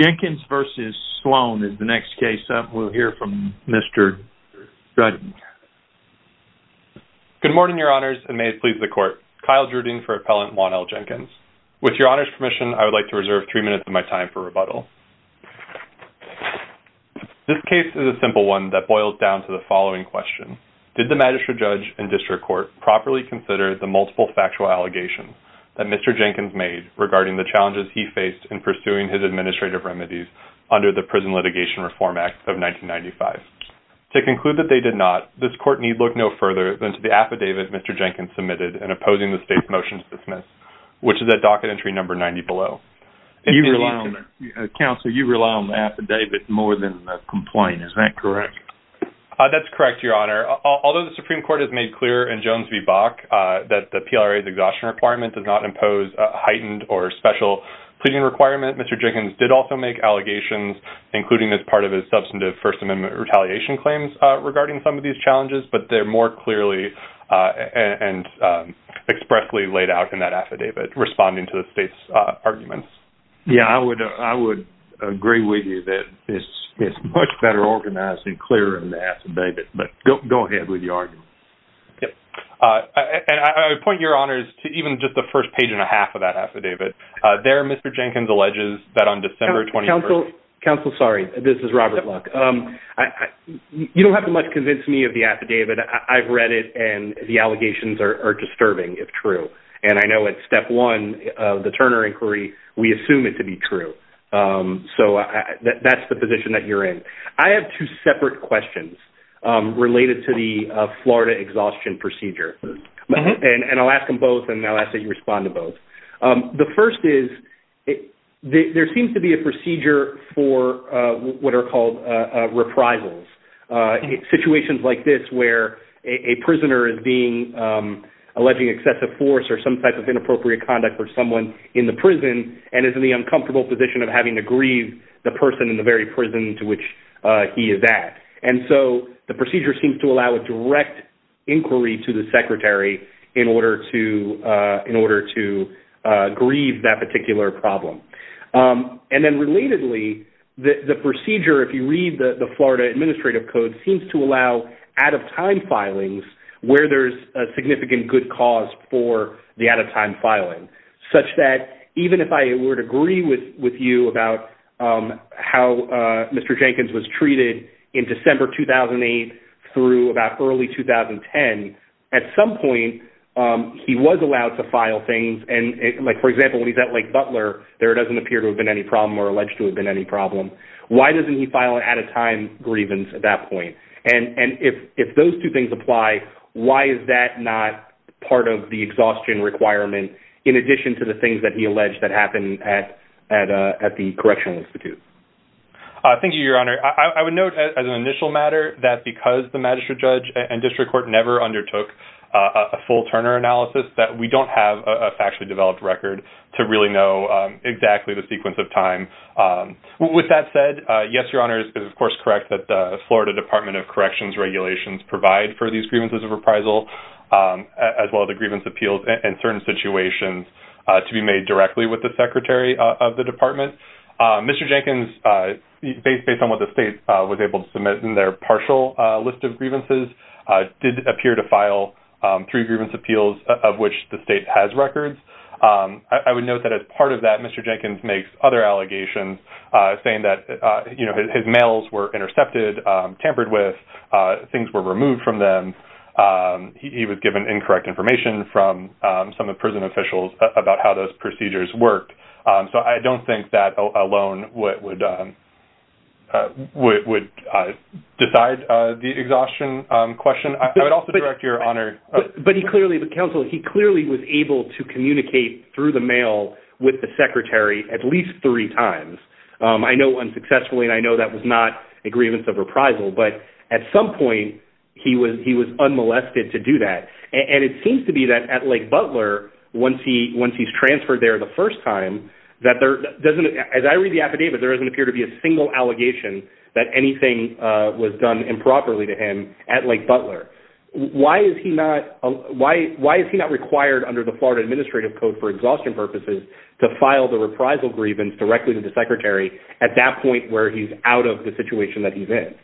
Jenkins v. Sloan is the next case. We'll hear from Mr. Judd. Good morning, Your Honors, and may it please the Court. Kyle Judding for Appellant Juan L. Jenkins. With Your Honor's permission, I would like to reserve three minutes of my time for rebuttal. This case is a simple one that boils down to the following question. Did the Magistrate Judge and District Court properly consider the multiple factual allegations that Mr. Jenkins made regarding the challenges he faced in pursuing his administrative remedies under the Prison Litigation Reform Act of 1995? To conclude that they did not, this Court need look no further than to the affidavit Mr. Jenkins submitted in opposing the State's motion to dismiss, which is at Docket Entry Number 90 below. Counselor, you rely on the affidavit more than the complaint, is that correct? That's correct, Your Honor. Although the Supreme Court has made clear in Jones v. Bach that the PLRA's exhaustion requirement does not impose a heightened or special pleading requirement, Mr. Jenkins did also make allegations, including as part of his substantive First Amendment retaliation claims regarding some of these challenges, but they're more clearly and expressly laid out in that affidavit responding to the State's arguments. Yeah, I would agree with you that it's much better organized and clearer in the affidavit, but go ahead with your argument. Yeah, and I would point your honors to even just the first page and a half of that affidavit. There, Mr. Jenkins alleges that on December 21st... Counsel, sorry, this is Robert Luck. You don't have to much convince me of the affidavit. I've read it and the allegations are disturbing, if true, and I know it's step one of the Turner inquiry, we assume it to be true. So that's the position that you're in. I have two separate questions related to the Florida exhaustion procedure, and I'll ask them both, and I'll ask that you respond to both. The first is, there seems to be a procedure for what are called reprisals. Situations like this, where a prisoner is being, alleging excessive force or some type of inappropriate conduct for someone in the prison, and is in the uncomfortable position of having to grieve the person in the very prison to which he is at. And so the procedure seems to allow a direct inquiry to the secretary in order to grieve that particular problem. And then relatedly, the procedure, if you read the Florida Administrative Code, seems to allow out of time filings, where there's a significant good cause for the out of time filing, such that even if I were to agree with you about how Mr. Jenkins was treated in December 2008 through about early 2010, at some point, he was allowed to file things. And like, for example, when he's at Lake Butler, there doesn't appear to have been any problem or alleged to have been any problem. Why doesn't he file an out of time grievance at that point? And if those two things apply, why is that not part of the exhaustion requirement, in addition to the things that he alleged that happened at the Correctional Institute? Thank you, Your Honor. I would note as an initial matter that because the magistrate judge and district court never undertook a full Turner analysis, that we don't have a factually developed record to really know exactly the sequence of time. With that said, yes, Your Honor, it is of course correct that the Florida Department of Corrections regulations provide for these grievances of reprisal, as well as the grievance appeals in certain situations, to be made directly with the Secretary of the Department. Mr. Jenkins, based on what the state was able to submit in their partial list of grievances, did appear to file three grievance appeals, of which the state has records. I would note that as part of that, Mr. Jenkins makes other allegations, saying that his mails were intercepted, tampered with, things were removed from them. He was given incorrect information from some of prison officials about how those procedures worked. So I don't think that alone would decide the exhaustion question. I would also direct Your Honor... But he clearly, the counsel, he clearly was able to communicate through the mail with the Secretary at least three times. I know that was not a grievance of reprisal, but at some point he was unmolested to do that. And it seems to be that at Lake Butler, once he's transferred there the first time, as I read the affidavit, there doesn't appear to be a single allegation that anything was done improperly to him at Lake Butler. Why is he not required under the Florida Administrative Code for Exhaustion Purposes to file the reprisal grievance directly to the Secretary at that point where he's out of the situation that he's in?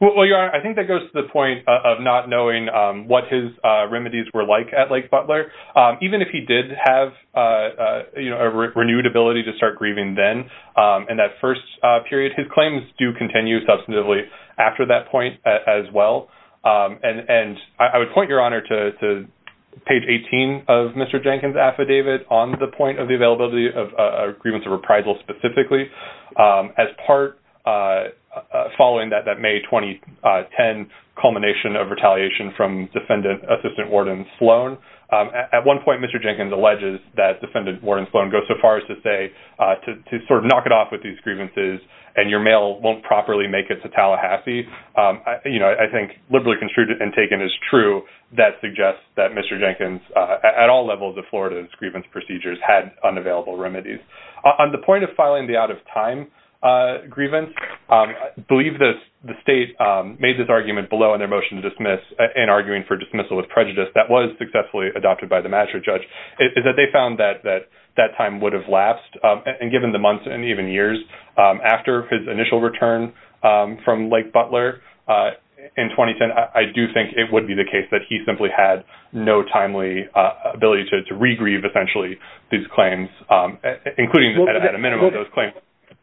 Well, Your Honor, I think that goes to the point of not knowing what his remedies were like at Lake Butler. Even if he did have a renewed ability to start grieving then in that first period, his claims do continue substantively after that point as well. And I would point Your Honor to page 18 of Mr. Jenkins' affidavit on the point of the availability of a grievance of reprisal specifically as part following that May 2010 culmination of retaliation from Defendant Assistant Warden Sloan. At one point, Mr. Jenkins alleges that Defendant Warden Sloan goes so far as to say to sort of knock it off with these I think liberally construed and taken as true that suggests that Mr. Jenkins at all levels of Florida's grievance procedures had unavailable remedies. On the point of filing the out-of-time grievance, I believe the state made this argument below in their motion to dismiss in arguing for dismissal with prejudice that was successfully adopted by the magistrate judge is that they found that that time would have lapsed. And given the months and even years after his initial return from Lake Butler in 2010, I do think it would be the case that he simply had no timely ability to regrieve essentially these claims, including at a minimum those claims.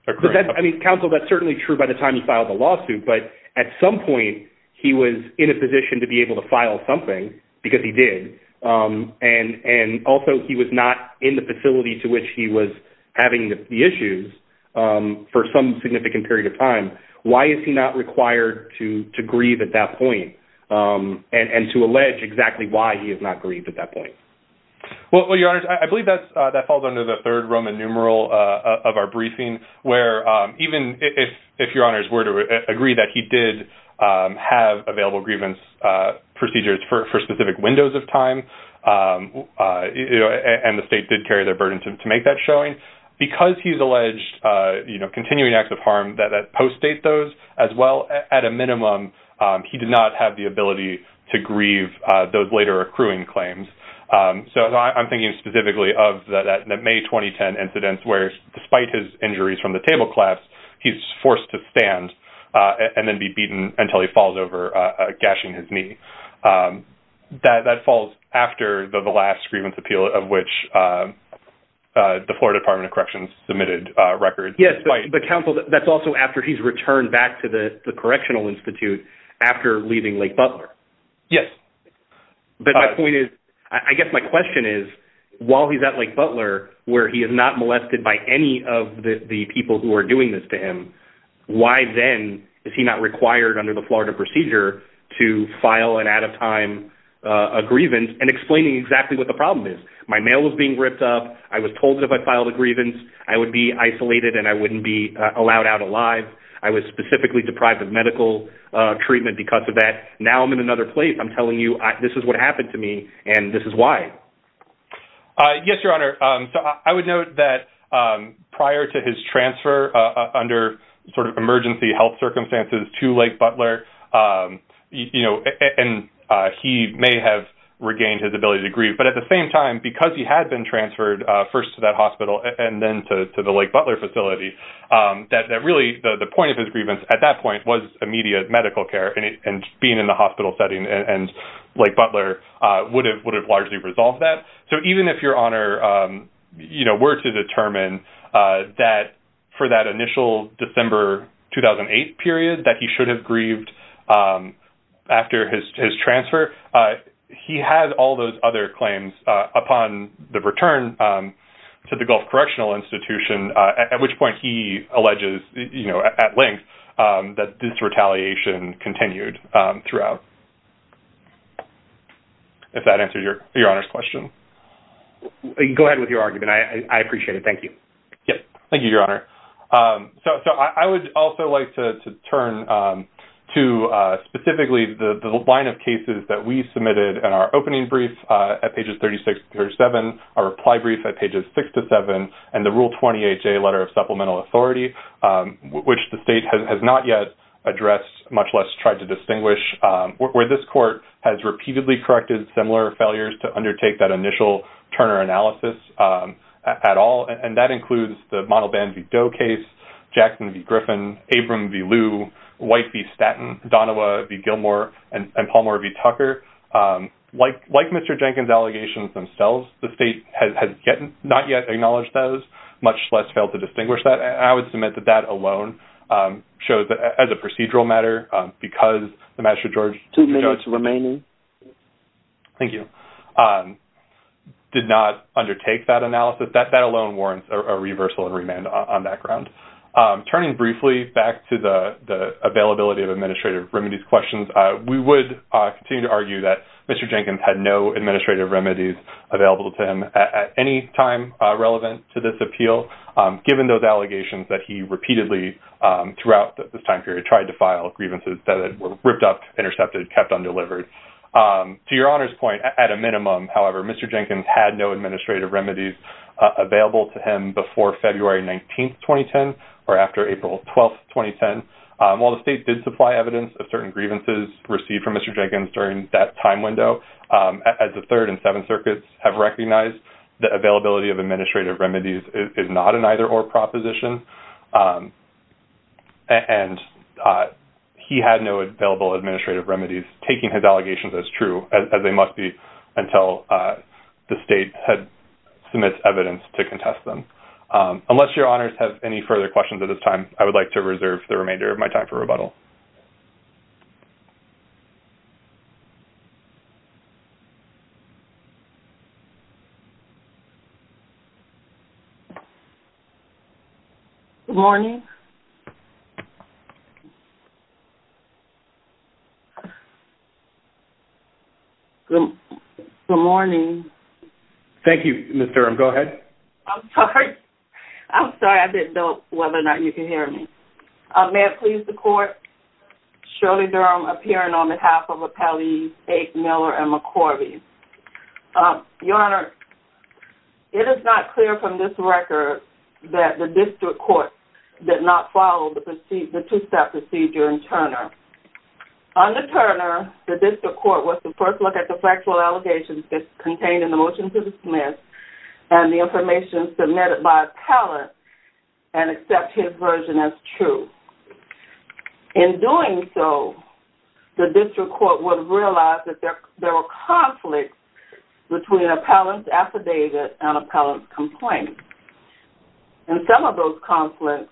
I mean, counsel, that's certainly true by the time he filed the lawsuit, but at some point, he was in a position to be able to file something because he did. And also, he was not in the facility to which he was having the issues for some significant period of time. Why is he not required to grieve at that point and to allege exactly why he has not grieved at that point? Well, your honors, I believe that falls under the third Roman numeral of our briefing, where even if your honors were to agree that he did have available grievance procedures for specific windows of time, and the state did carry their burden to make that showing, because he's alleged continuing acts of harm that post-date those as well, at a minimum, he did not have the ability to grieve those later accruing claims. So I'm thinking specifically of the May 2010 incidents where despite his injuries from the table collapse, he's forced to stand and then be beaten until he falls over gashing his knee. That falls after the last grievance appeal of which the Florida Department of Corrections submitted a record. Yes, but counsel, that's also after he's returned back to the Correctional Institute after leaving Lake Butler. Yes. But my point is, I guess my question is, while he's at Lake Butler, where he is not molested by any of the people who are doing this to him, why then is he not required under the Florida procedure to file an out of time a grievance and explaining exactly what the problem is. My mail was being ripped up. I was told that if I filed a grievance, I would be isolated and I wouldn't be allowed out alive. I was specifically deprived of medical treatment because of that. Now I'm in another place. I'm telling you, this is what happened to me. And this is why. Yes, Your Honor. So I would note that prior to his transfer under sort of emergency health circumstances to Lake Butler, and he may have regained his ability to grieve. But at the same time, because he had been transferred first to that hospital and then to the Lake Butler facility, that really the point of his grievance at that point was immediate medical care and being in the hospital setting and Lake Butler would have largely resolved that. So even if Your Honor were to determine for that initial December 2008 period that he should have grieved after his transfer, he had all those other claims upon the return to the Gulf Correctional Institution, at which point, if that answers Your Honor's question. Go ahead with your argument. I appreciate it. Thank you. Yes. Thank you, Your Honor. So I would also like to turn to specifically the line of cases that we submitted in our opening brief at pages 36 or 37, our reply brief at pages six to seven, and the Rule 20HA letter of supplemental authority, which the state has not yet addressed, much less tried to distinguish, where this court has repeatedly corrected similar failures to undertake that initial Turner analysis at all. And that includes the Model Band v. Doe case, Jackson v. Griffin, Abram v. Liu, White v. Statton, Donova v. Gilmore, and Palmer v. Tucker. Like Mr. Jenkins' allegations themselves, the state has not yet acknowledged those, much less failed to distinguish that. And I would submit that that procedural matter, because the magistrate judge- Two minutes remaining. Thank you. Did not undertake that analysis. That alone warrants a reversal and remand on that ground. Turning briefly back to the availability of administrative remedies questions, we would continue to argue that Mr. Jenkins had no administrative remedies available to him at any time relevant to this appeal, given those allegations that he repeatedly throughout this period tried to file grievances that were ripped up, intercepted, kept undelivered. To your Honor's point, at a minimum, however, Mr. Jenkins had no administrative remedies available to him before February 19th, 2010, or after April 12th, 2010. While the state did supply evidence of certain grievances received from Mr. Jenkins during that time window, as the Third and Seventh Circuits have recognized, the availability of administrative remedies is not an either-or proposition. And he had no available administrative remedies, taking his allegations as true, as they must be, until the state had submitted evidence to contest them. Unless your Honors have any further questions at this time, I would like to reserve the remainder of my time for rebuttal. Good morning. Good morning. Thank you, Ms. Durham. Go ahead. I'm sorry. I'm sorry. I didn't know whether or not you could hear me. May it please the Court, Shirley Durham, appearing on behalf of Appellees 8 Miller and McCorvey. Your Honor, it is not clear from this record that the District Court did not follow the two-step procedure in Turner. Under Turner, the District Court was to first look at the factual allegations that contained in the motion to dismiss, and the information submitted by Appellate, and accept his version as true. In doing so, the District Court would realize that there were conflicts between Appellant Affidavit and Appellant Complaint. And some of those conflicts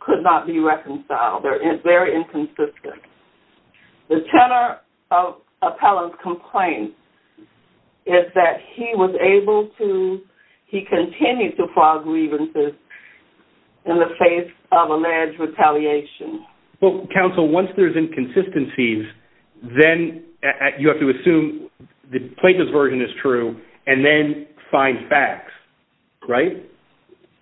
could not be reconciled. They're very inconsistent. The Turner Appellant Complaint is that he was able to-he continued to file grievances in the face of alleged retaliation. Well, Counsel, once there's inconsistencies, then you have to assume the plaintiff's version is true, and then find facts, right?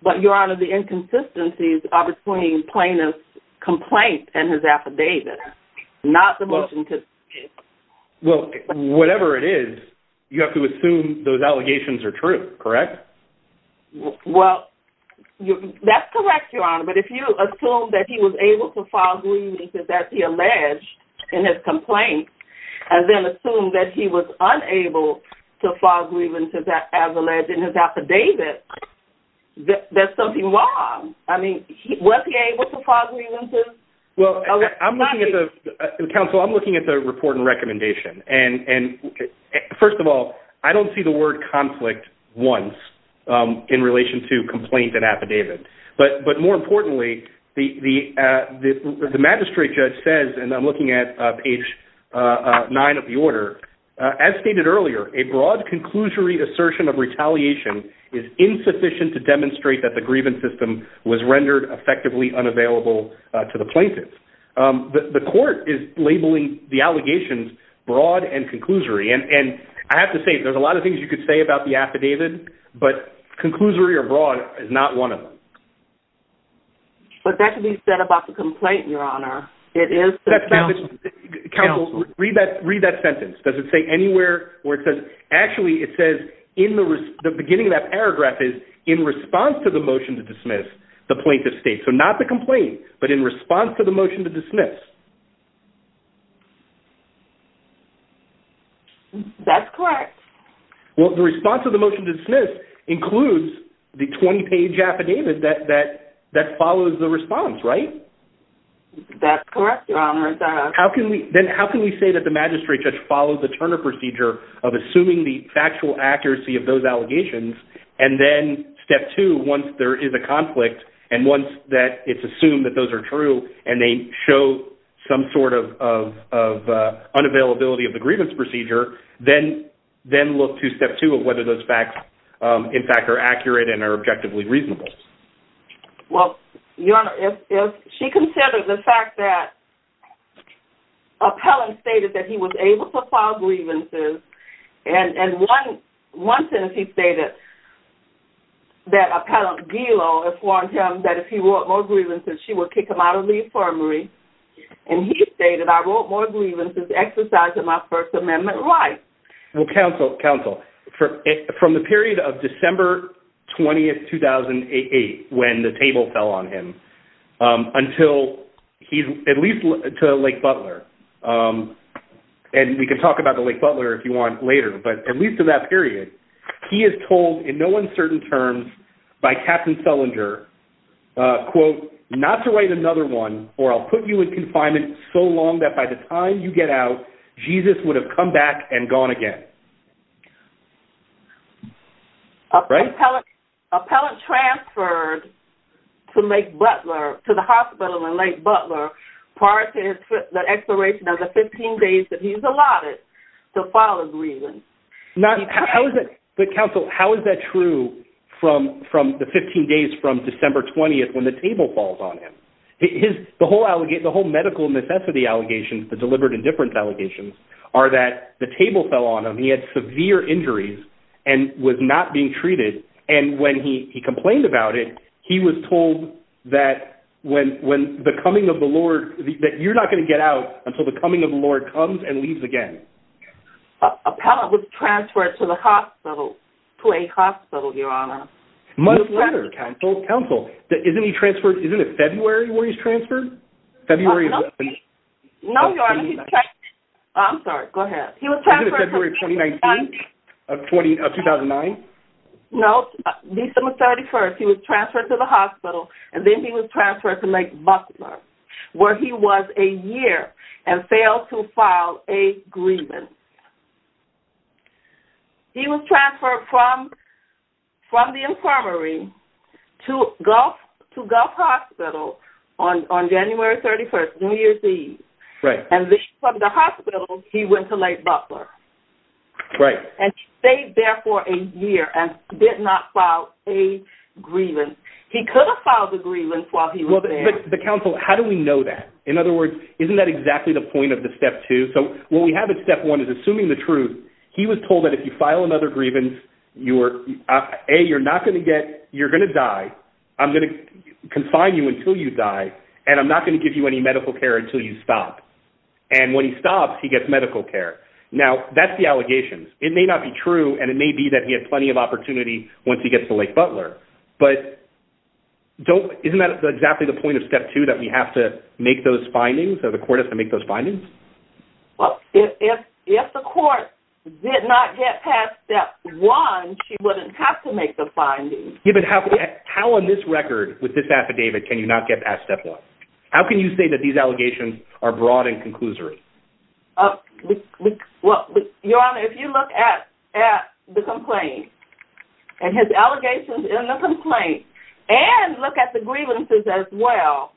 But, Your Honor, the inconsistencies are between plaintiff's complaint and his affidavit, not the motion to- Well, whatever it is, you have to assume those allegations are true, correct? Well, that's correct, Your Honor. But if you assume that he was able to file grievances that he alleged in his complaint, and then assume that he was unable to file grievances as alleged in his affidavit, there's something wrong. I mean, was he able to file grievances? Well, Counsel, I'm looking at the report and recommendation. And first of all, I don't see the word conflict once in relation to complaint and affidavit. But more importantly, the magistrate judge says, and I'm looking at page nine of the order, as stated earlier, a broad conclusory assertion of retaliation is insufficient to demonstrate that the grievance system was rendered effectively unavailable to the plaintiff. The court is labeling the plaintiff's complaint. There's a lot of things you could say about the affidavit, but conclusory or broad is not one of them. But that can be said about the complaint, Your Honor. It is- Counsel, read that sentence. Does it say anywhere where it says- Actually, it says in the beginning of that paragraph is, in response to the motion to dismiss, the plaintiff states. So not the complaint, but in response to the motion to dismiss. That's correct. Well, the response of the motion to dismiss includes the 20-page affidavit that follows the response, right? That's correct, Your Honor. Then how can we say that the magistrate judge follows the Turner procedure of assuming the factual accuracy of those allegations? And then step two, once there is a conflict and once that it's assumed that those are true, and they show that they're true, how can we say that the some sort of unavailability of the grievance procedure, then look to step two of whether those facts, in fact, are accurate and are objectively reasonable? Well, Your Honor, if she considered the fact that appellant stated that he was able to file grievances, and one sentence he stated, that appellant Gilo has warned him that if he wrought more grievances, she would kick him out of the infirmary. And he stated, I wrought more grievances exercising my First Amendment right. Well, counsel, from the period of December 20th, 2008, when the table fell on him, until he's at least to Lake Butler, and we can talk about the Lake Butler if you want later, but at least to that period, he is told in no uncertain terms, by Captain Selinger, quote, not to write another one, or I'll put you in confinement so long that by the time you get out, Jesus would have come back and gone again. Appellant transferred to Lake Butler, to the hospital in Lake Butler, prior to the expiration of the 15 days that he's allotted to file a grievance. Now, how is it that counsel, how is that true from the 15 days from December 20th, when the table falls on him? The whole medical necessity allegations, the deliberate indifference allegations, are that the table fell on him, he had severe injuries, and was not being treated. And when he complained about it, he was told that when the coming of the Lord, that you're not going to get out until the coming of the Lord comes and leaves again. Appellant was transferred to the hospital, to a hospital, Your Honor. Much better, counsel, counsel. Isn't he transferred, isn't it February where he's transferred? No, Your Honor, he's transferred, I'm sorry, go ahead. Wasn't it February of 2019, of 2009? No, December 31st, he was transferred to the hospital, and then he was transferred to Lake Butler. He was transferred from the infirmary to Gulf Hospital on January 31st, New Year's Eve. And from the hospital, he went to Lake Butler, and stayed there for a year, and did not file a grievance. He could have filed a grievance while he was there. But counsel, how do we know that? In other words, isn't that exactly the point of the step two? So, what we have in step one is, assuming the truth, he was told that if you file another grievance, you're, A, you're not going to get, you're going to die, I'm going to confine you until you die, and I'm not going to give you any medical care until you stop. And when he stops, he gets medical care. Now, that's the allegations. It may not be true, and it may be that he had plenty of opportunity once he gets to Lake Butler. But isn't that exactly the point of step two, that we have to make those findings, or the court has to make those findings? Well, if the court did not get past step one, she wouldn't have to make the findings. Yeah, but how on this record, with this affidavit, can you not get past step one? How can you say that these allegations are broad and conclusory? Well, Your Honor, if you look at the complaint, and his allegations in the complaint, and look at the grievances as well,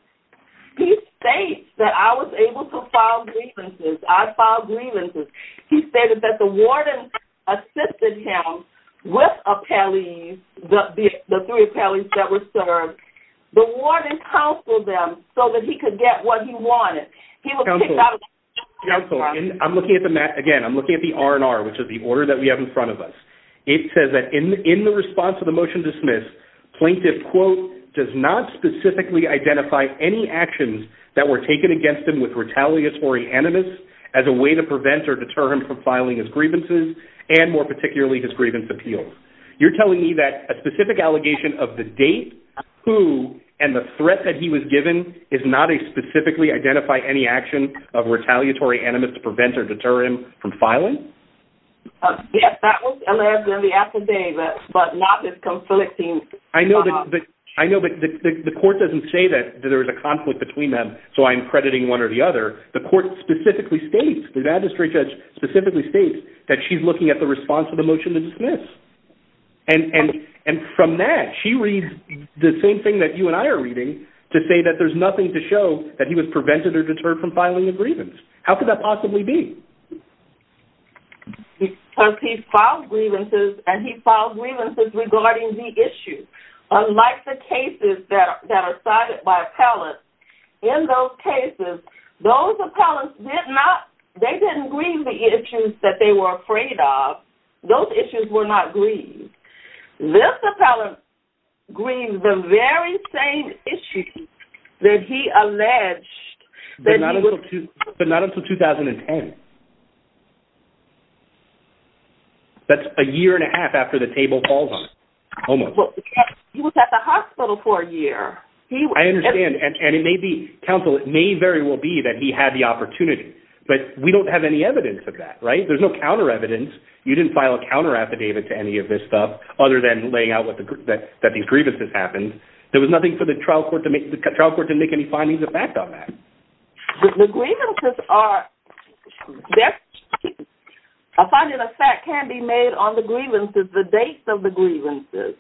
he states that I was able to file grievances. I filed grievances. He stated that the warden assisted him with appellees, the three appellees that were served. The warden counseled them so that he could get what he wanted. He was kicked out of the courtroom. Counsel, counsel, I'm looking at the, again, I'm looking at the R&R, which is the order that we have in front of us. It says that in the response to the motion to plaintiff, quote, does not specifically identify any actions that were taken against him with retaliatory animus as a way to prevent or deter him from filing his grievances, and more particularly his grievance appeals. You're telling me that a specific allegation of the date, who, and the threat that he was given is not a specifically identify any action of retaliatory animus to prevent or deter him from filing? Yes, that was allegedly at the date, but not this conflicting. I know, but the court doesn't say that there was a conflict between them, so I'm crediting one or the other. The court specifically states, the magistrate judge specifically states that she's looking at the response to the motion to dismiss. And from that, she reads the same thing that you and I are reading to say that there's nothing to show that he was prevented or deterred from filing the grievance. How could that possibly be? Because he filed grievances, and he filed grievances regarding the issue. Unlike the cases that are cited by appellants, in those cases, those appellants did not, they didn't grieve the issues that they were afraid of. Those issues were not grieved. This appellant grieved the very same issue that he alleged that he would- That's a year and a half after the table falls on him, almost. He was at the hospital for a year. I understand, and it may be, counsel, it may very well be that he had the opportunity, but we don't have any evidence of that, right? There's no counter evidence. You didn't file a counter affidavit to any of this stuff, other than laying out that these grievances happened. There was nothing for the trial court to make, the trial court didn't make any findings of fact on that. The grievances are- A finding of fact can be made on the grievances, the dates of the grievances.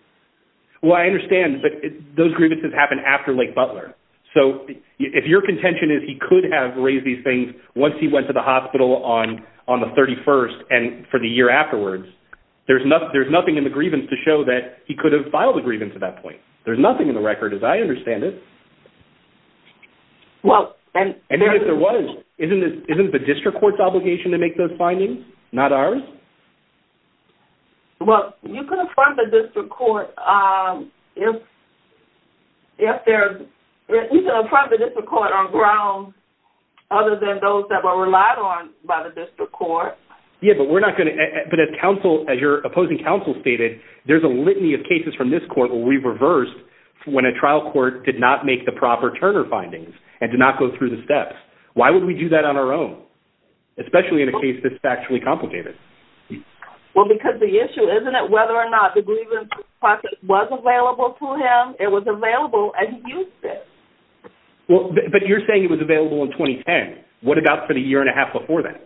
Well, I understand, but those grievances happened after Lake Butler. So if your contention is he could have raised these things once he went to the hospital on the 31st and for the year afterwards, there's nothing in the grievance to show that he could have filed a grievance at that point. There's nothing in the record as I understand it. Well, and- And if there was, isn't it the district court's obligation to make those findings, not ours? Well, you can affirm the district court if there- you can affirm the district court on grounds other than those that were relied on by the district court. Yeah, but we're not going to- but as counsel, as your opposing counsel stated, there's a litany of cases from this court where we've reversed when a trial court did not make the proper Turner findings and did not go through the steps. Why would we do that on our own, especially in a case that's factually complicated? Well, because the issue, isn't it, whether or not the grievance process was available to him? It was available and he used it. Well, but you're saying it was available in 2010. What about for the year and a half before that?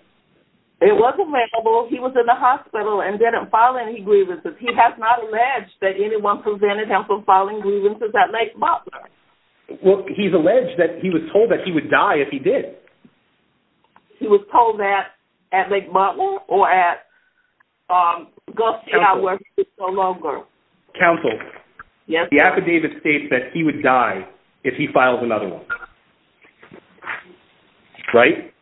It was available. He was in the hospital and didn't file any grievances. He has not alleged that anyone prevented him from filing grievances at Lake Butler. Well, he's alleged that he was told that he would die if he did. He was told that at Lake Butler or at- Counsel, the affidavit states that he would die if he files another one, right?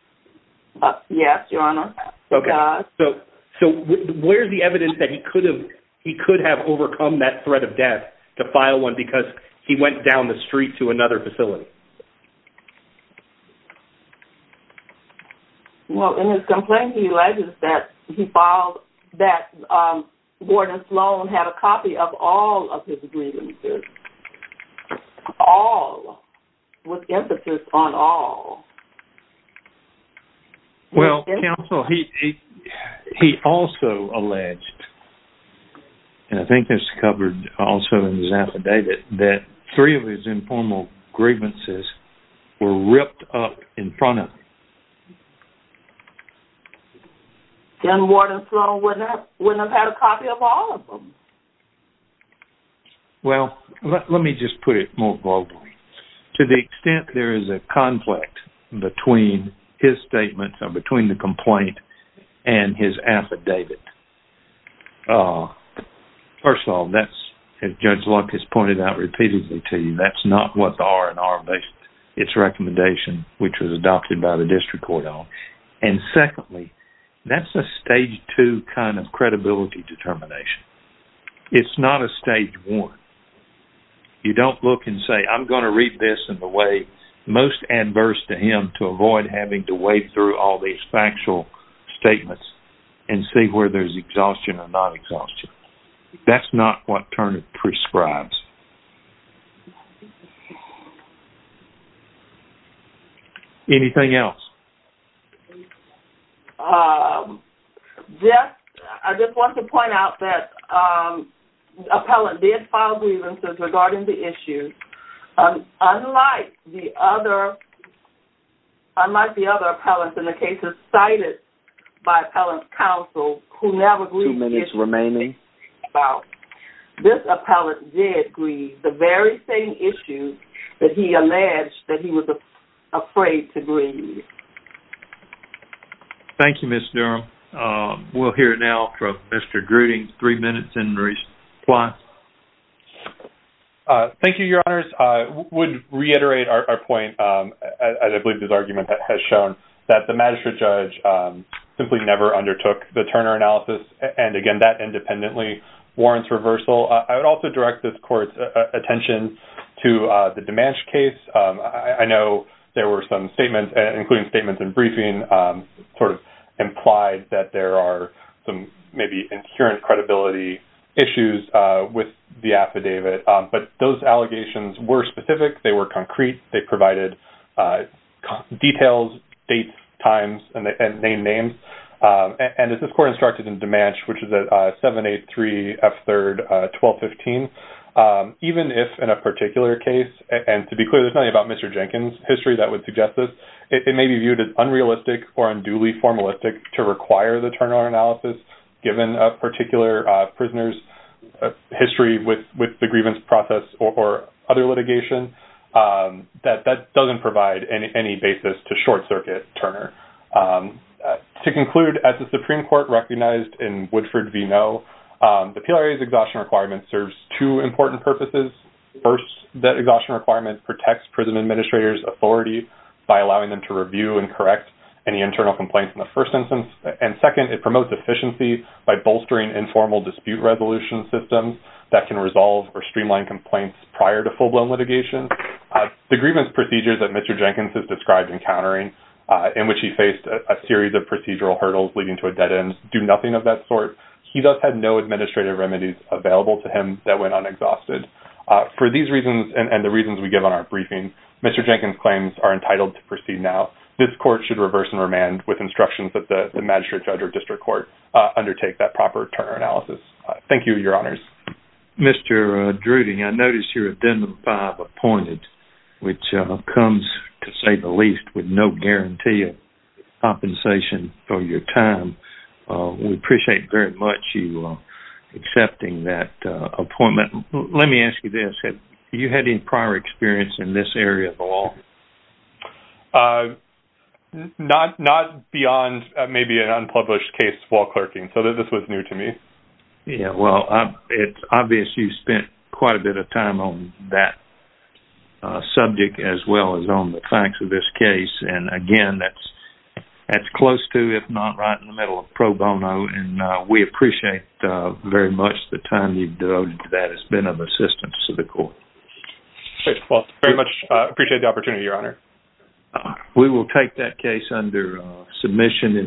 Yes, your honor. So where's the evidence that he could have overcome that threat of death to file one because he went down the street to another facility? Well, in his complaint, he alleges that he filed- that Gordon Sloan had a copy of all of his grievances. All. With emphasis on all. Well, counsel, he also alleged, and I think it's covered also in his affidavit, that three of his informal grievances were ripped up in front of him. Then Gordon Sloan wouldn't have had a copy of all of them. Well, let me just put it more broadly. To the extent there is a conflict between his statement, between the complaint and his affidavit. First of all, as Judge Luck has pointed out repeatedly to you, that's not what the R&R based its recommendation, which was adopted by the district court on. And secondly, that's a stage two kind of credibility determination. It's not a stage one. You don't look and say, I'm going to read this in the way most adverse to him to avoid having to wade through all these factual statements and see where there's exhaustion or non-exhaustion. That's not what Turner prescribes. Anything else? Yes. I just want to point out that the appellant did file grievances regarding the issues. Unlike the other appellants in the cases cited by appellant counsel, who never grieved his grievance, this appellant did grieve the very same issues that he alleged that he was afraid to grieve. Thank you, Ms. Durham. We'll hear now from Mr. Gruden, three minutes in response. Thank you, Your Honors. I would reiterate our point, as I believe this argument has shown, that the magistrate judge simply never undertook the Turner analysis. And again, that independently warrants reversal. I would also direct this court's attention to the Demanche case. I know there were some statements, including statements in briefing, sort of implied that there are some maybe inherent credibility issues with the affidavit. But those allegations were specific. They were concrete. They provided details, dates, times, and name names. And as this court instructed in Demanche, which is at 783 F. 3rd, 1215, even if in a particular case, and to be clear, there's nothing about Mr. Jenkins' history that would suggest this, it may be viewed as unrealistic or unduly formalistic to require the Turner analysis, given a particular prisoner's history with the grievance process or other litigation. That doesn't provide any basis to short circuit Turner. To conclude, as the Supreme Court recognized in Woodford v. Noe, the PLRA's exhaustion requirement serves two important purposes. First, that exhaustion requirement protects prison administrators' authority by allowing them to review and correct any internal complaints in the first instance. And second, it promotes efficiency by bolstering informal dispute resolution systems that can resolve or streamline complaints prior to full-blown litigation. The grievance procedures that Mr. Jenkins has described encountering, in which he faced a series of procedural hurdles leading to a dead end, do nothing of that sort. He thus had no administrative remedies available to him that went unexhausted. For these reasons, and the reasons we give on our briefing, Mr. Jenkins' claims are entitled to proceed now. This court should reverse and remand with instructions that the Magistrate, Judge, or District Court undertake that proper Turner analysis. Thank you, Your Honors. Mr. Drudy, I notice your Addendum 5 appointed, which comes to say the least with no guarantee of compensation for your time. We appreciate very much you accepting that appointment. Let me ask you this, have you had any prior experience in this area at all? Not beyond maybe an unpublished case while clerking, so this was new to me. Yeah, well, it's obvious you've spent quite a bit of time on that subject as well as on the facts of this case. And again, that's if not right in the middle of pro bono, and we appreciate very much the time you've devoted to that. It's been of assistance to the court. Well, very much appreciate the opportunity, Your Honor. We will take that case under submission.